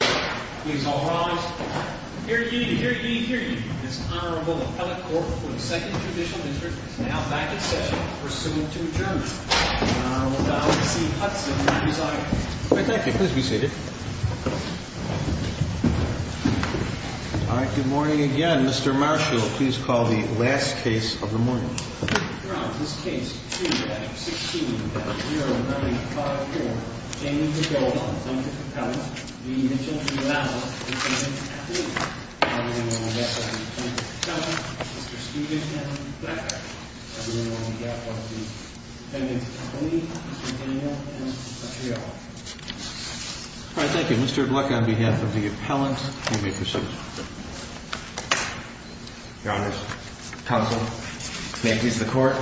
Please all rise. Hear ye, hear ye, hear ye. This Honorable Appellate Court for the Second Judicial District is now back in session pursuant to adjournment. The Honorable Donald C. Hudson will present. Thank you. Please be seated. All right, good morning again. Mr. Marshall, please call the last case of the morning. Your Honor, this case 2-16-0954. Jamie Bedolla v. Appellant v. Mitchell v. Lauber. Mr. Hudson, Mr. Stevens, and Mr. Black. Everyone on behalf of the defendant's company, Mr. Daniel, and Mr. Petriello. All right, thank you. Mr. Black on behalf of the appellant, you may proceed. Your Honor, counsel, may it please the court.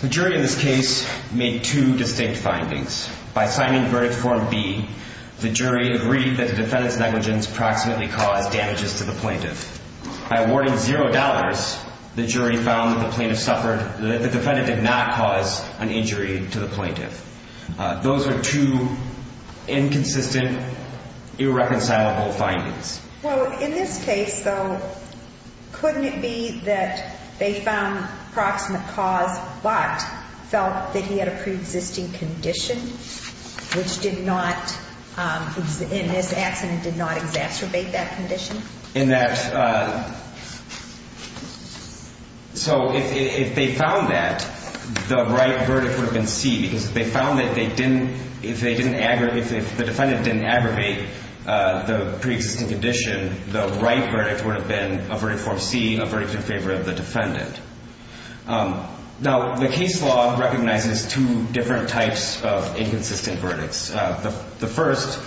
The jury in this case made two distinct findings. By signing verdict form B, the jury agreed that the defendant's negligence approximately caused damages to the plaintiff. By awarding zero dollars, the jury found that the defendant did not cause an injury to the plaintiff. Those are two inconsistent, irreconcilable findings. Well, in this case, though, couldn't it be that they found approximate cause, but felt that he had a preexisting condition, which did not, in this accident, did not exacerbate that condition? In that, so if they found that, the right verdict would have been C, because if they found that they didn't, if the defendant didn't aggravate the preexisting condition, the right verdict would have been a verdict form C, a verdict in favor of the defendant. Now, the case law recognizes two different types of inconsistent verdicts. The first,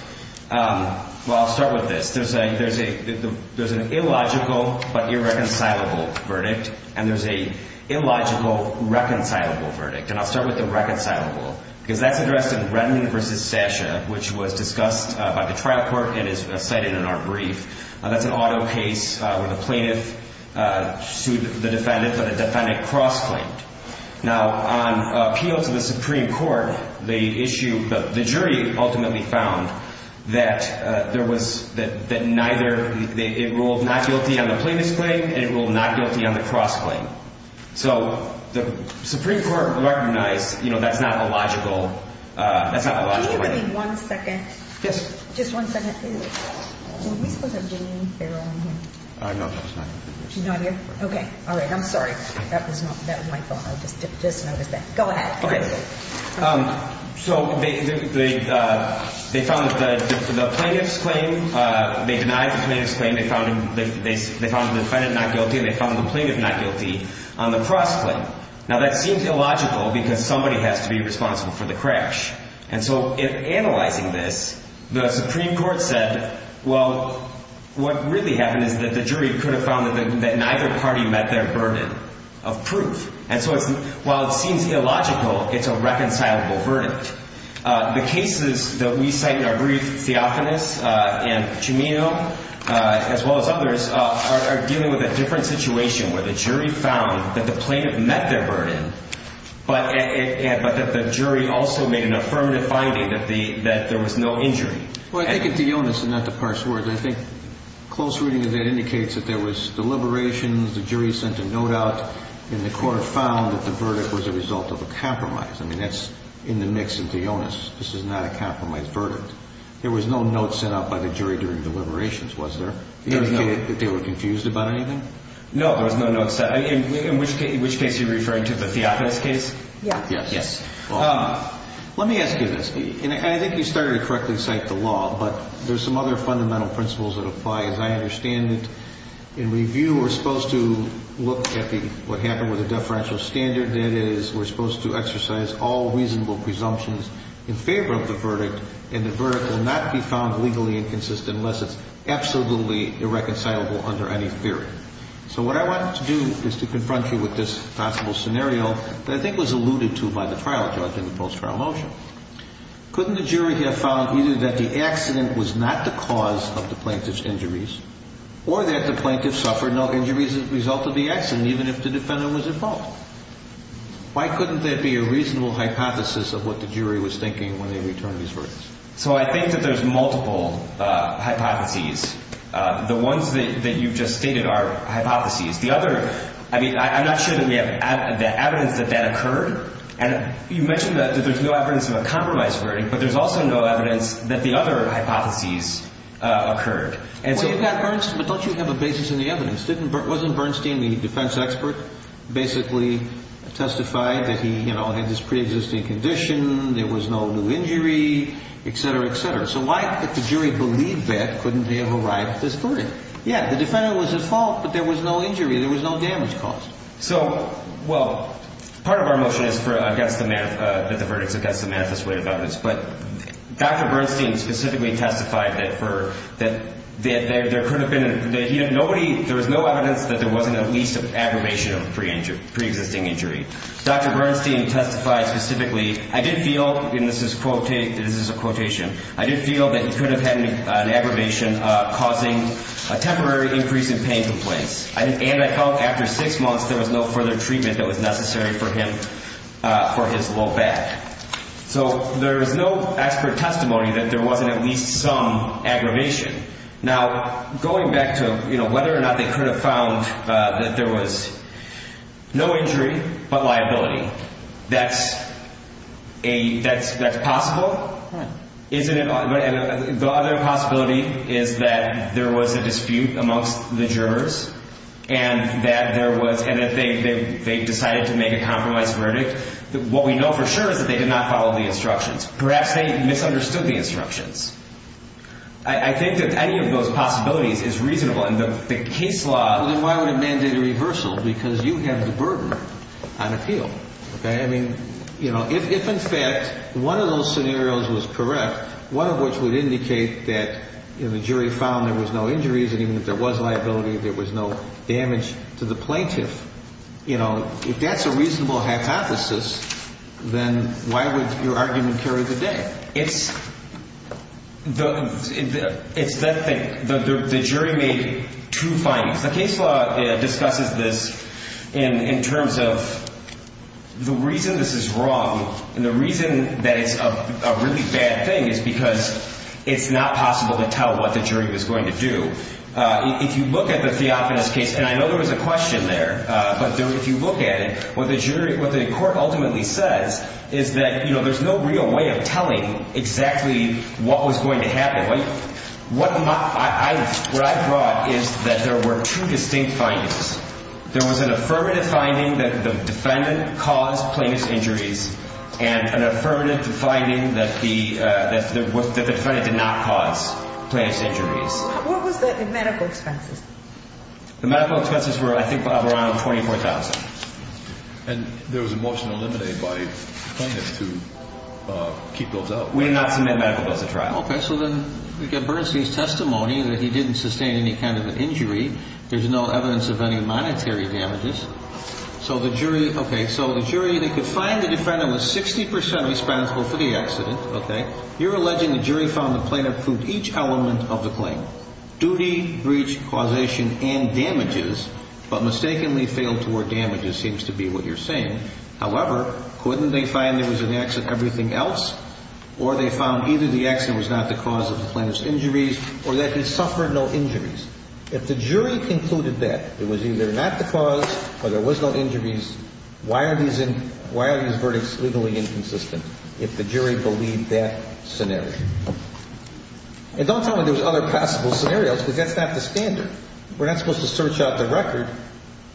well, I'll start with this. There's an illogical but irreconcilable verdict, and there's a illogical reconcilable verdict. And I'll start with the reconcilable, because that's addressed in Brennan v. Sasha, which was discussed by the trial court and is cited in our brief. That's an auto case where the plaintiff sued the defendant, but the defendant cross-claimed. Now, on appeal to the Supreme Court, the issue, the jury ultimately found that there was, that neither, it ruled not guilty on the plaintiff's claim, and it ruled not guilty on the cross-claim. So the Supreme Court recognized, you know, that's not a logical, that's not a logical verdict. Can you give me one second? Yes. Just one second. Are we supposed to have Janine Farrell in here? No, no, she's not here. She's not here? Okay. All right, I'm sorry. That was my fault. I just noticed that. Go ahead. Okay. So they found that the plaintiff's claim, they denied the plaintiff's claim. They found the defendant not guilty, and they found the plaintiff not guilty on the cross-claim. Now, that seems illogical because somebody has to be responsible for the crash. And so in analyzing this, the Supreme Court said, well, what really happened is that the jury could have found that neither party met their burden of proof. And so while it seems illogical, it's a reconcilable verdict. The cases that we cite in our brief, Theophanis and Chimino, as well as others, are dealing with a different situation where the jury found that the plaintiff met their burden, but that the jury also made an affirmative finding that there was no injury. Well, I think it's the illness and not the parse words. And I think close reading of that indicates that there was deliberations. The jury sent a note out, and the court found that the verdict was a result of a compromise. I mean, that's in the mix of the illness. This is not a compromised verdict. There was no note sent out by the jury during deliberations, was there? There was no. They were confused about anything? No, there was no note sent. In which case are you referring to, the Theophanis case? Yes. Yes. Let me ask you this. I think you started to correctly cite the law, but there's some other fundamental principles that apply, as I understand it. In review, we're supposed to look at what happened with the deferential standard. That is, we're supposed to exercise all reasonable presumptions in favor of the verdict, and the verdict will not be found legally inconsistent unless it's absolutely irreconcilable under any theory. So what I want to do is to confront you with this possible scenario that I think was alluded to by the trial judge in the post-trial motion. Couldn't the jury have found either that the accident was not the cause of the plaintiff's injuries or that the plaintiff suffered no injuries as a result of the accident, even if the defendant was at fault? Why couldn't there be a reasonable hypothesis of what the jury was thinking when they returned these verdicts? So I think that there's multiple hypotheses. The ones that you've just stated are hypotheses. I mean, I'm not sure that we have evidence that that occurred. And you mentioned that there's no evidence of a compromised verdict, but there's also no evidence that the other hypotheses occurred. Well, you've got Bernstein, but don't you have a basis in the evidence? Wasn't Bernstein the defense expert basically testified that he had this preexisting condition, there was no new injury, et cetera, et cetera? So why could the jury believe that? Couldn't they have arrived at this verdict? Yeah, the defendant was at fault, but there was no injury. There was no damage caused. So, well, part of our motion is that the verdict is against the manifest way of evidence. But Dr. Bernstein specifically testified that there could have been no evidence that there wasn't at least an aggravation of preexisting injury. Dr. Bernstein testified specifically, I did feel, and this is a quotation, I did feel that he could have had an aggravation causing a temporary increase in pain complaints. And I felt after six months there was no further treatment that was necessary for him for his low back. So there is no expert testimony that there wasn't at least some aggravation. Now, going back to whether or not they could have found that there was no injury but liability, that's possible. Isn't it? The other possibility is that there was a dispute amongst the jurors and that there was, and that they decided to make a compromised verdict. What we know for sure is that they did not follow the instructions. Perhaps they misunderstood the instructions. I think that any of those possibilities is reasonable. And the case law. Well, then why would it mandate a reversal? Because you have the burden on appeal. I mean, you know, if in fact one of those scenarios was correct, one of which would indicate that the jury found there was no injuries and even if there was liability, there was no damage to the plaintiff, you know, if that's a reasonable hypothesis, then why would your argument carry the day? It's that thing. The jury made two findings. The case law discusses this in terms of the reason this is wrong and the reason that it's a really bad thing is because it's not possible to tell what the jury was going to do. If you look at the Theophanis case, and I know there was a question there, but if you look at it, what the court ultimately says is that, you know, there's no real way of telling exactly what was going to happen. What I brought is that there were two distinct findings. There was an affirmative finding that the defendant caused plaintiff's injuries and an affirmative finding that the defendant did not cause plaintiff's injuries. What was the medical expenses? The medical expenses were, I think, around $24,000. And there was a motion eliminated by the plaintiff to keep those out. We did not submit medical bills to trial. Okay. So then we get Bernstein's testimony that he didn't sustain any kind of an injury. There's no evidence of any monetary damages. So the jury, okay, so the jury, they could find the defendant was 60 percent responsible for the accident. Okay. You're alleging the jury found the plaintiff proved each element of the claim, duty, breach, causation, and damages, but mistakenly failed toward damages seems to be what you're saying. However, couldn't they find there was an accident in everything else? Or they found either the accident was not the cause of the plaintiff's injuries or that he suffered no injuries. If the jury concluded that it was either not the cause or there was no injuries, why are these verdicts legally inconsistent if the jury believed that scenario? And don't tell me there's other possible scenarios because that's not the standard. We're not supposed to search out the record.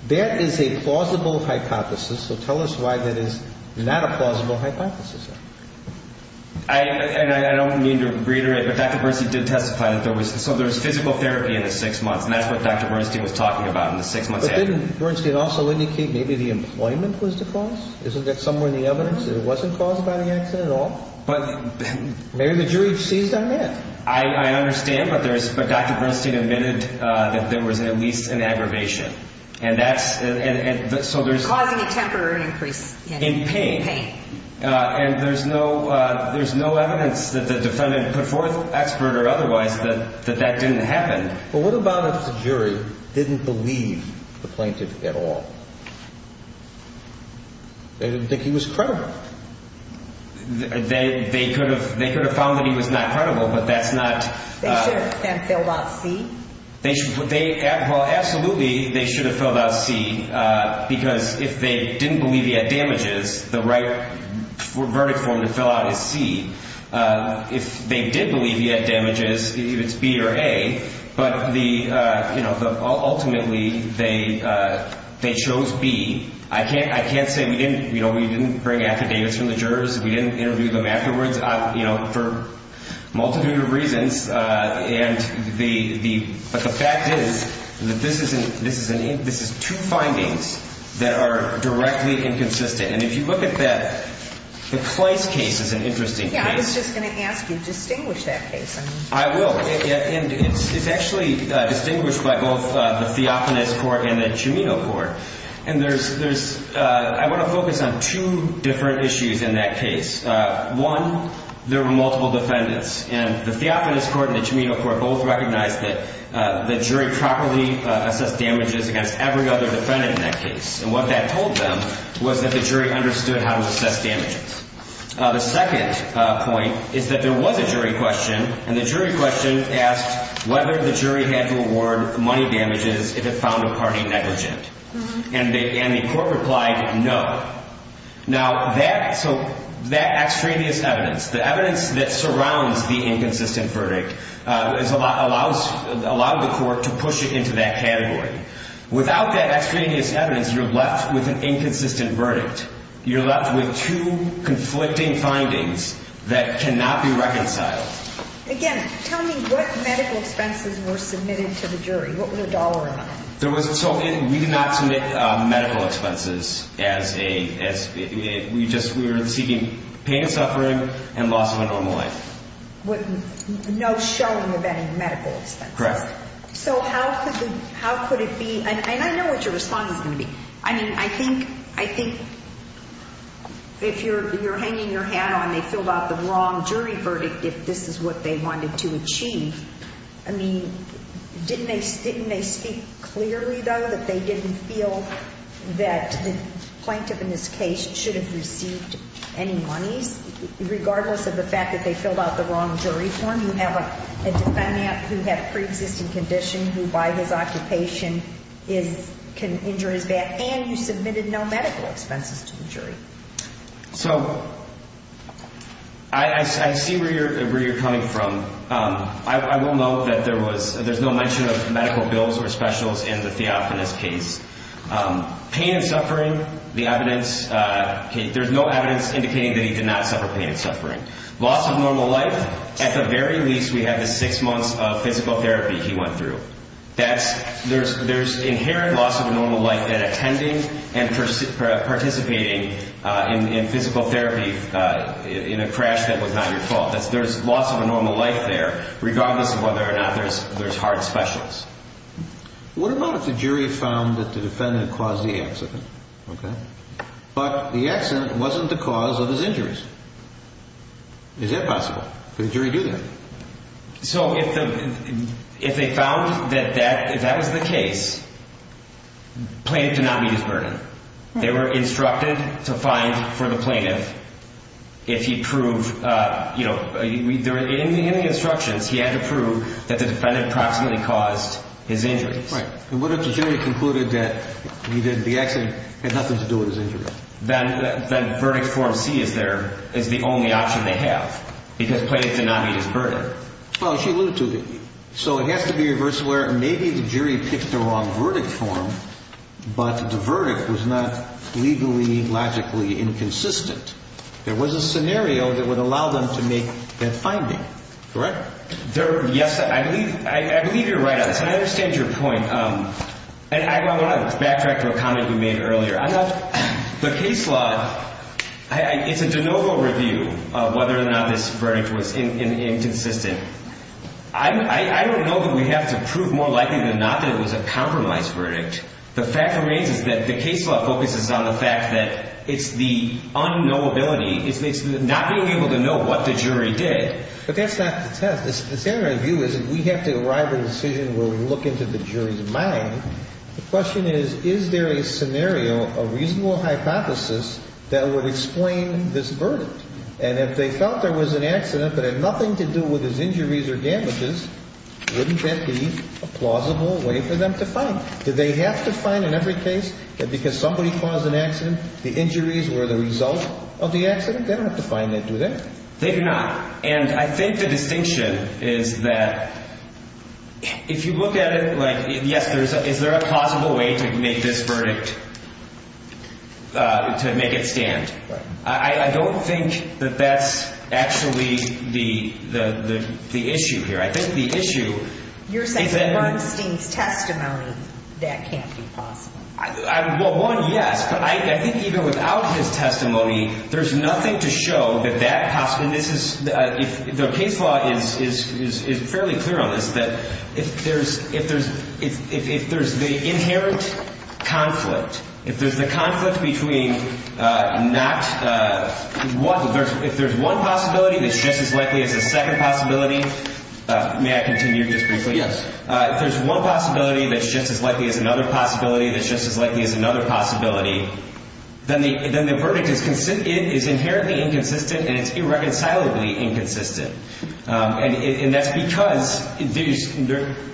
That is a plausible hypothesis, so tell us why that is not a plausible hypothesis. I don't mean to reiterate, but Dr. Bernstein did testify that there was physical therapy in the six months, and that's what Dr. Bernstein was talking about in the six months. But didn't Bernstein also indicate maybe the employment was the cause? Isn't that somewhere in the evidence that it wasn't caused by the accident at all? Maybe the jury seized on that. I understand, but Dr. Bernstein admitted that there was at least an aggravation. Causing a temporary increase in pain. In pain. And there's no evidence that the defendant put forth, expert or otherwise, that that didn't happen. But what about if the jury didn't believe the plaintiff at all? They didn't think he was credible. They could have found that he was not credible, but that's not. They should have sent them filled out C. Well, absolutely they should have filled out C, because if they didn't believe he had damages, the right verdict for them to fill out is C. If they did believe he had damages, it's B or A. But ultimately they chose B. I can't say we didn't bring academics from the jurors. But the fact is that this is two findings that are directly inconsistent. And if you look at that, the Kleist case is an interesting case. Yeah, I was just going to ask you to distinguish that case. I will. And it's actually distinguished by both the Theophanes Court and the Cimino Court. And I want to focus on two different issues in that case. One, there were multiple defendants. And the Theophanes Court and the Cimino Court both recognized that the jury properly assessed damages against every other defendant in that case. And what that told them was that the jury understood how to assess damages. The second point is that there was a jury question, and the jury question asked whether the jury had to award money damages if it found a party negligent. And the court replied no. Now, that extraneous evidence, the evidence that surrounds the inconsistent verdict, allows the court to push it into that category. Without that extraneous evidence, you're left with an inconsistent verdict. You're left with two conflicting findings that cannot be reconciled. Again, tell me what medical expenses were submitted to the jury. What was the dollar amount? We did not submit medical expenses. We were seeking pain and suffering and loss of a normal life. No showing of any medical expenses? Correct. So how could it be? And I know what your response is going to be. I mean, I think if you're hanging your hat on, they filled out the wrong jury verdict if this is what they wanted to achieve. I mean, didn't they speak clearly, though, that they didn't feel that the plaintiff in this case should have received any monies, regardless of the fact that they filled out the wrong jury form? You have a defendant who had a preexisting condition who, by his occupation, can injure his back, and you submitted no medical expenses to the jury. So I see where you're coming from. I will note that there's no mention of medical bills or specials in the Theophanis case. Pain and suffering, there's no evidence indicating that he did not suffer pain and suffering. Loss of normal life, at the very least, we have the six months of physical therapy he went through. There's inherent loss of normal life at attending and participating in physical therapy in a crash that was not your fault. There's loss of a normal life there, regardless of whether or not there's hard specials. What about if the jury found that the defendant caused the accident, but the accident wasn't the cause of his injuries? Is that possible? Could a jury do that? So if they found that that was the case, plaintiff did not meet his burden. They were instructed to find, for the plaintiff, if he proved, you know, in the instructions, he had to prove that the defendant approximately caused his injuries. Right. And what if the jury concluded that the accident had nothing to do with his injuries? Then verdict form C is there, is the only option they have, because plaintiff did not meet his burden. Well, she alluded to it. So it has to be a verse where maybe the jury picked the wrong verdict form, but the verdict was not legally, logically inconsistent. There was a scenario that would allow them to make that finding, correct? Yes, I believe you're right on this, and I understand your point. And I want to backtrack to a comment you made earlier. The case law, it's a de novo review of whether or not this verdict was inconsistent. I don't know that we have to prove more likely than not that it was a compromise verdict. The fact remains is that the case law focuses on the fact that it's the unknowability. It's not being able to know what the jury did. But that's not the test. The standard view is that we have to arrive at a decision where we look into the jury's mind. The question is, is there a scenario, a reasonable hypothesis that would explain this verdict? And if they felt there was an accident that had nothing to do with his injuries or damages, wouldn't that be a plausible way for them to find it? Did they have to find in every case that because somebody caused an accident, the injuries were the result of the accident? They don't have to find that, do they? They do not. And I think the distinction is that if you look at it, like, yes, is there a plausible way to make this verdict, to make it stand? Right. I don't think that that's actually the issue here. I think the issue is that — You're saying in Rod Steen's testimony that can't be plausible. Well, one, yes. But I think even without his testimony, there's nothing to show that that — and this is — the case law is fairly clear on this, that if there's the inherent conflict, if there's the conflict between not — if there's one possibility that's just as likely as a second possibility — may I continue just briefly? Yes. If there's one possibility that's just as likely as another possibility that's just as likely as another possibility, then the verdict is inherently inconsistent and it's irreconcilably inconsistent. And that's because there's —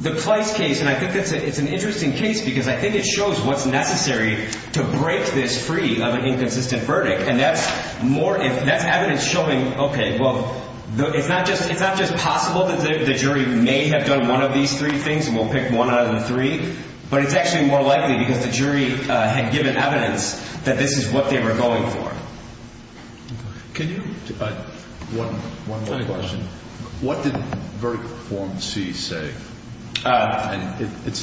the Pleist case, and I think it's an interesting case because I think it shows what's necessary to break this free of an inconsistent verdict. And that's more — that's evidence showing, okay, well, it's not just possible that the jury may have done one of these three things, and we'll pick one out of the three, but it's actually more likely because the jury had given evidence that this is what they were going for. Can you — One more question. What did verdict form C say? It's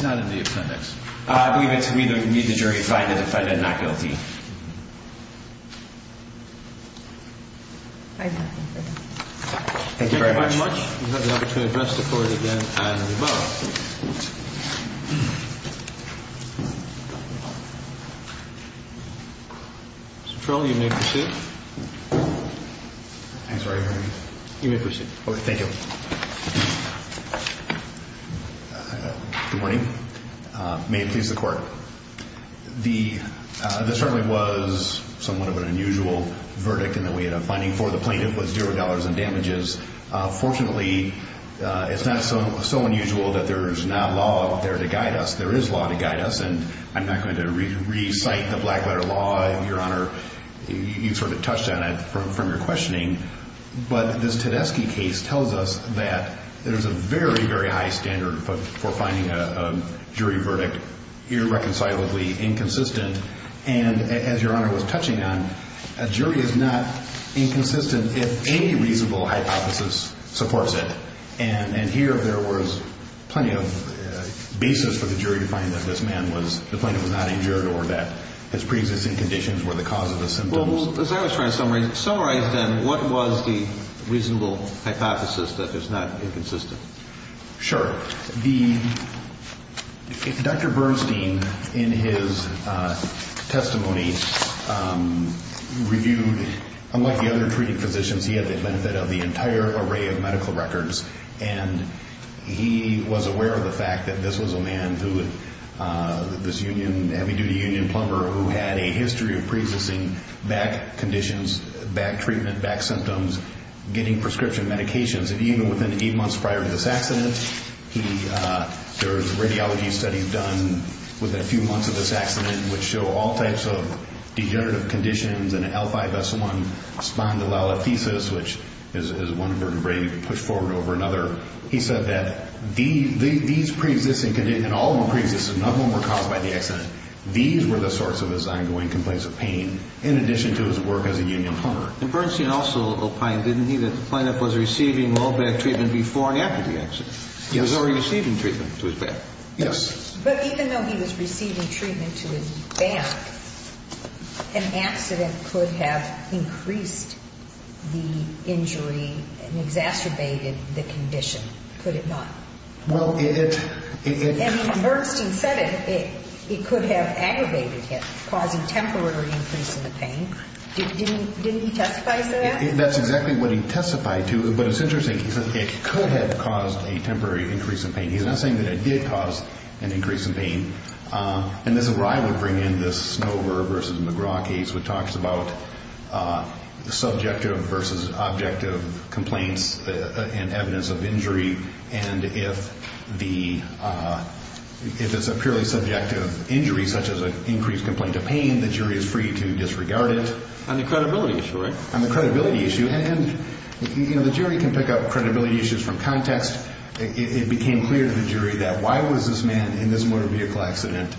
not in the appendix. I believe it's we need the jury to find a defendant not guilty. Thank you. Thank you very much. Thank you very much. You have the opportunity to address the Court again and above. Mr. Trill, you may proceed. Thanks for having me. You may proceed. Okay, thank you. Good morning. May it please the Court. This certainly was somewhat of an unusual verdict in that we had a finding for the plaintiff with zero dollars in damages. Fortunately, it's not so unusual that there's not law up there to guide us. There is law to guide us, and I'm not going to recite the black letter law, Your Honor. You sort of touched on it from your questioning. But this Tedeschi case tells us that there's a very, very high standard for finding a jury verdict irreconcilably inconsistent. And as Your Honor was touching on, a jury is not inconsistent if any reasonable hypothesis supports it. And here there was plenty of basis for the jury to find that this man was — the plaintiff was not injured or that his preexisting conditions were the cause of the symptoms. Well, as I was trying to summarize, then, what was the reasonable hypothesis that it's not inconsistent? Sure. Dr. Bernstein, in his testimony, reviewed — unlike the other treated physicians, he had the benefit of the entire array of medical records, and he was aware of the fact that this was a man who — this heavy-duty union plumber who had a history of preexisting back conditions, back treatment, back symptoms, getting prescription medications. And even within eight months prior to this accident, he — there was radiology studies done within a few months of this accident which show all types of degenerative conditions in an L5-S1 spondylolisthesis, which is one vertebrae you can push forward over another. He said that these preexisting — and all of them preexisted. None of them were caused by the accident. These were the source of his ongoing complaints of pain, in addition to his work as a union plumber. And Bernstein also opined, didn't he, that the plaintiff was receiving low-back treatment before and after the accident? Yes. He was already receiving treatment to his back. Yes. But even though he was receiving treatment to his back, an accident could have increased the injury and exacerbated the condition, could it not? Well, it — it — It could have aggravated it, causing temporary increase in the pain. Didn't he testify to that? That's exactly what he testified to. But it's interesting. He said it could have caused a temporary increase in pain. He's not saying that it did cause an increase in pain. And this is where I would bring in this Snover v. McGraw case, which talks about subjective versus objective complaints and evidence of injury. And if the — if it's a purely subjective injury, such as an increased complaint of pain, the jury is free to disregard it. On the credibility issue, right? On the credibility issue. And, you know, the jury can pick out credibility issues from context. It became clear to the jury that why was this man in this motor vehicle accident?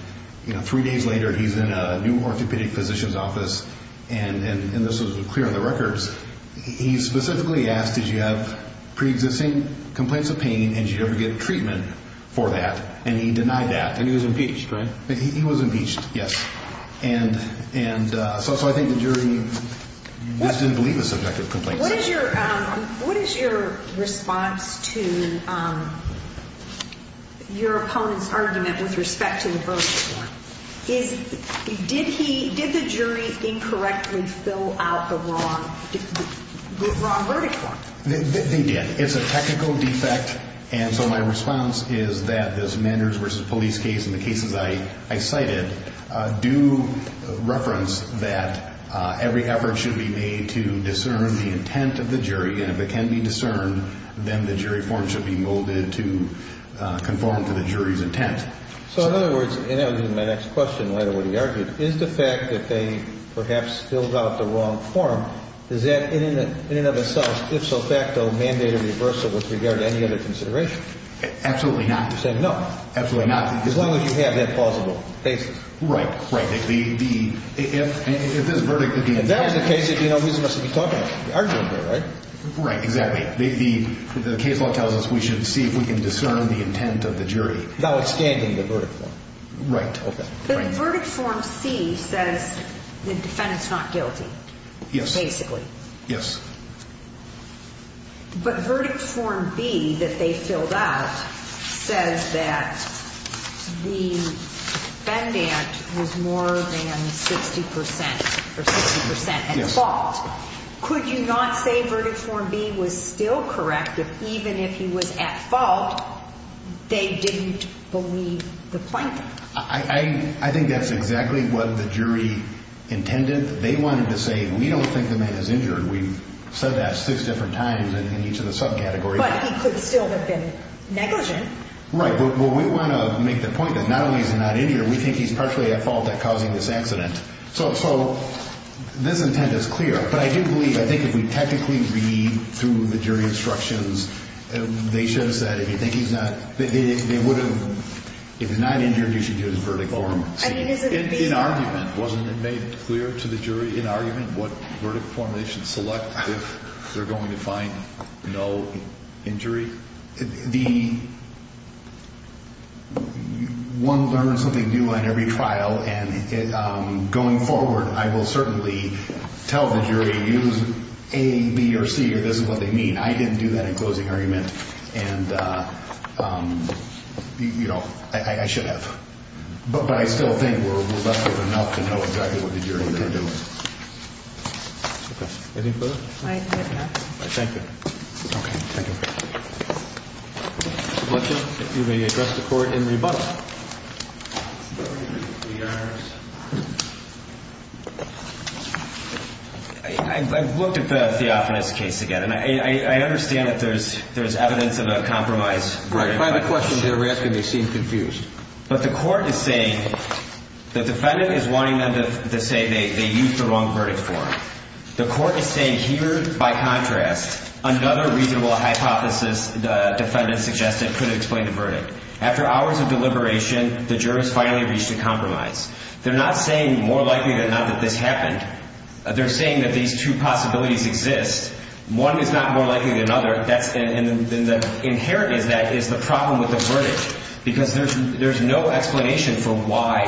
You know, three days later, he's in a new orthopedic physician's office, and this was clear in the records. He specifically asked, did you have preexisting complaints of pain, and did you ever get treatment for that? And he denied that. And he was impeached, right? He was impeached, yes. And so I think the jury just didn't believe the subjective complaints. What is your — what is your response to your opponent's argument with respect to the verdict form? Is — did he — did the jury incorrectly fill out the wrong — the wrong verdict form? They did. It's a technical defect. And so my response is that this Manders v. Police case and the cases I cited do reference that every effort should be made to discern the intent of the jury. And if it can be discerned, then the jury form should be molded to conform to the jury's intent. So, in other words, and that was in my next question later when he argued, is the fact that they perhaps filled out the wrong form, does that in and of itself, if so facto, mandate a reversal with regard to any other consideration? Absolutely not. You're saying no? Absolutely not. As long as you have that plausible basis. Right. Right. If the — if this verdict — If that was the case, you know, who's he supposed to be talking to? The argumenter, right? Right, exactly. The case law tells us we should see if we can discern the intent of the jury. Without expanding the verdict form. Right. Okay. The verdict form C says the defendant's not guilty. Yes. Basically. Yes. But verdict form B that they filled out says that the defendant was more than 60 percent or 60 percent at fault. Yes. Could you not say verdict form B was still correct if even if he was at fault, they didn't believe the plaintiff? I think that's exactly what the jury intended. They wanted to say we don't think the man is injured. We've said that six different times in each of the subcategories. But he could still have been negligent. Right. Well, we want to make the point that not only is he not injured, we think he's partially at fault at causing this accident. So this intent is clear. But I do believe — I think if we technically read through the jury instructions, they should have said if you think he's not — If he's not injured, you should use verdict form C. In argument, wasn't it made clear to the jury in argument what verdict form they should select if they're going to find no injury? The — one learns something new on every trial. And going forward, I will certainly tell the jury, use A, B, or C, or this is what they mean. I didn't do that in closing argument. And, you know, I should have. But I still think we're reluctant enough to know exactly what the jury intended. Okay. Anything further? I think that's enough. Thank you. Okay. Thank you. Mr. Blucher, you may address the court in rebuttal. I looked at the Theophanis case again. I understand that there's evidence of a compromise. Right. If I have a question they're asking, they seem confused. But the court is saying — the defendant is wanting them to say they used the wrong verdict form. The court is saying here, by contrast, another reasonable hypothesis the defendant suggested could explain the verdict. After hours of deliberation, the jurors finally reached a compromise. They're not saying more likely than not that this happened. They're saying that these two possibilities exist. One is not more likely than another. And the inherent in that is the problem with the verdict, because there's no explanation for why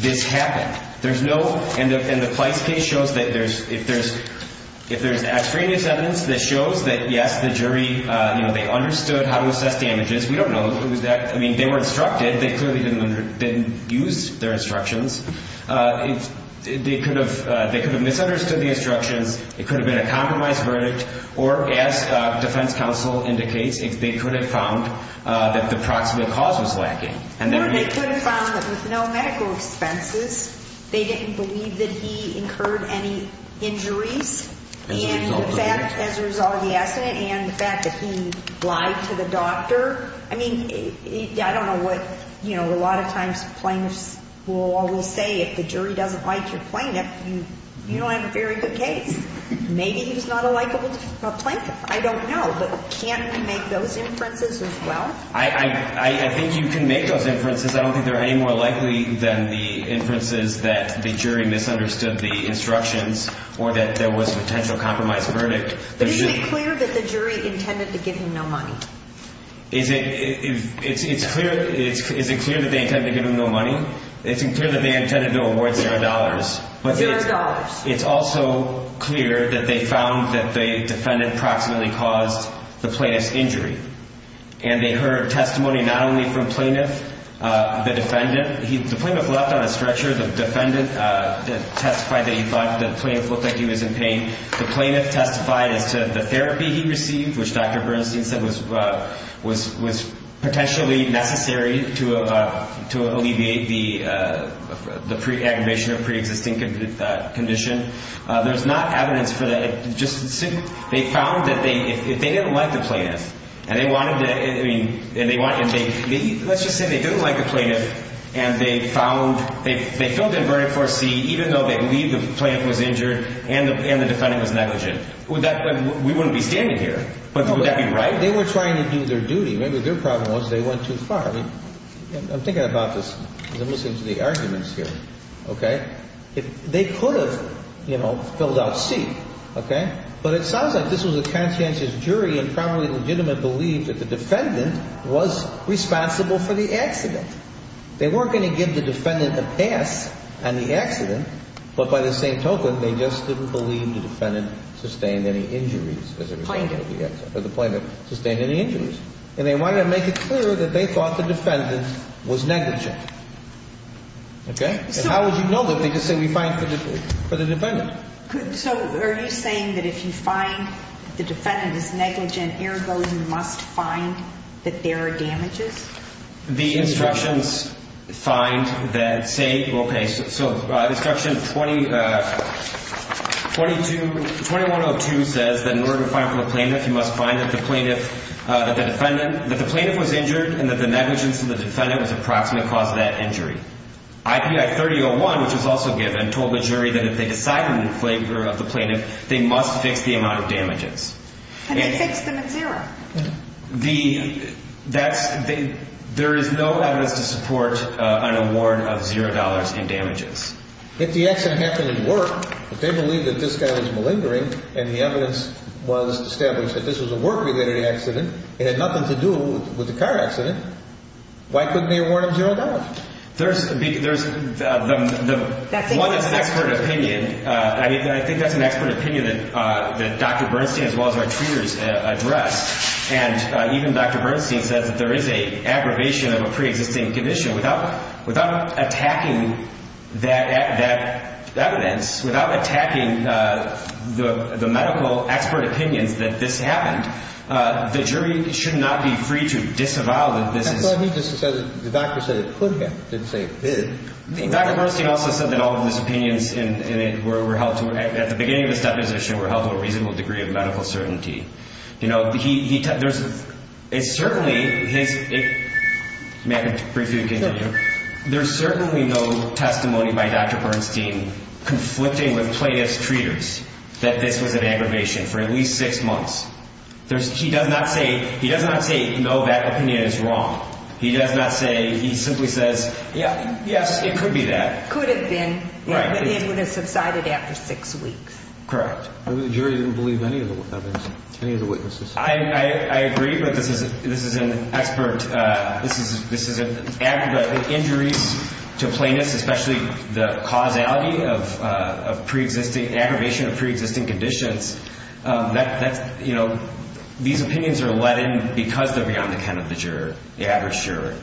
this happened. There's no — and the Pleist case shows that there's — if there's extraneous evidence that shows that, yes, the jury, you know, they understood how to assess damages. We don't know. I mean, they were instructed. They clearly didn't use their instructions. They could have misunderstood the instructions. It could have been a compromised verdict. Or, as defense counsel indicates, they could have found that the proximate cause was lacking. Or they could have found that with no medical expenses, they didn't believe that he incurred any injuries. As a result of the — And the fact — as a result of the accident and the fact that he lied to the doctor. I mean, I don't know what — you know, a lot of times plaintiffs will say if the jury doesn't like your plaintiff, you don't have a very good case. Maybe he was not a likable plaintiff. I don't know. But can we make those inferences as well? I think you can make those inferences. I don't think they're any more likely than the inferences that the jury misunderstood the instructions or that there was potential compromised verdict. But it should be clear that the jury intended to give him no money. Is it clear that they intended to give him no money? It's clear that they intended to award zero dollars. Zero dollars. It's also clear that they found that the defendant proximately caused the plaintiff's injury. And they heard testimony not only from plaintiff, the defendant. The plaintiff left on a stretcher. The defendant testified that he thought the plaintiff looked like he was in pain. The plaintiff testified as to the therapy he received, which Dr. Bernstein said was potentially necessary to alleviate the aggravation of preexisting condition. There's not evidence for that. They found that if they didn't like the plaintiff and they wanted to, I mean, let's just say they didn't like the plaintiff and they found, they filled in verdict for C even though they believe the plaintiff was injured and the defendant was negligent. Would that, we wouldn't be standing here. Would that be right? They were trying to do their duty. Maybe their problem was they went too far. I'm thinking about this as I'm listening to the arguments here. Okay? They could have, you know, filled out C. Okay? But it sounds like this was a conscientious jury and probably legitimate belief that the defendant was responsible for the accident. They weren't going to give the defendant a pass on the accident. But by the same token, they just didn't believe the defendant sustained any injuries as a result of the accident. Or the plaintiff sustained any injuries. And they wanted to make it clear that they thought the defendant was negligent. Okay? And how would you know that? They just say we find for the defendant. So are you saying that if you find the defendant is negligent, ergo you must find that there are damages? The instructions find that, say, okay, so instruction 20, 22, 2102 says that in order to find for the plaintiff, you must find that the plaintiff, that the defendant, that the plaintiff was injured and that the negligence of the defendant was approximately cause of that injury. I.P.I. 3001, which was also given, told the jury that if they decided in favor of the plaintiff, they must fix the amount of damages. And they fixed them at zero. The ‑‑ that's ‑‑ there is no evidence to support an award of zero dollars in damages. If the accident happened at work, if they believed that this guy was malingering and the evidence was established that this was a work‑related accident, it had nothing to do with the car accident, why couldn't they award him zero dollars? There's ‑‑ there's ‑‑ one is expert opinion. I think that's an expert opinion that Dr. Bernstein as well as our treaters addressed. And even Dr. Bernstein says that there is an aggravation of a preexisting condition. Without attacking that evidence, without attacking the medical expert opinions that this happened, the jury should not be free to disavow that this is ‑‑ Well, he just said that the doctor said it could have, didn't say it did. Dr. Bernstein also said that all of his opinions in it were held to ‑‑ at the beginning of this deposition were held to a reasonable degree of medical certainty. You know, he ‑‑ there's ‑‑ it's certainly his ‑‑ may I briefly continue? Sure. There's certainly no testimony by Dr. Bernstein conflicting with plaintiff's treaters that this was an aggravation for at least six months. There's ‑‑ he does not say ‑‑ he does not say, no, that opinion is wrong. He does not say ‑‑ he simply says, yes, it could be that. Could have been. Right. It would have subsided after six weeks. Correct. The jury didn't believe any of the witnesses. I agree, but this is an expert ‑‑ this is an aggravation. Injuries to plaintiffs, especially the causality of preexisting ‑‑ aggravation of preexisting conditions, that's, you know, these opinions are let in because they're beyond the ken of the juror, the average juror.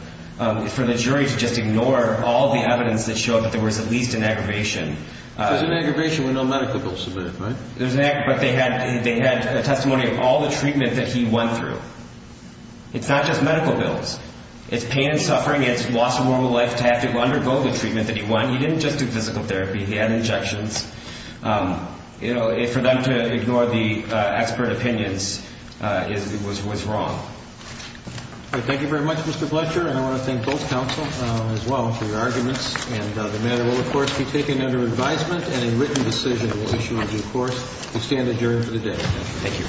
For the jury to just ignore all the evidence that showed that there was at least an aggravation. There's an aggravation with no medical bills submitted, right? There's an ‑‑ but they had a testimony of all the treatment that he went through. It's not just medical bills. It's pain and suffering. It's lost a moral life to have to undergo the treatment that he won. He didn't just do physical therapy. He had injections. You know, for them to ignore the expert opinions was wrong. Thank you very much, Mr. Bletcher. And I want to thank both counsel as well for your arguments. And the matter will, of course, be taken under advisement and a written decision will be issued on due course. You stand adjourned for the day. Thank you.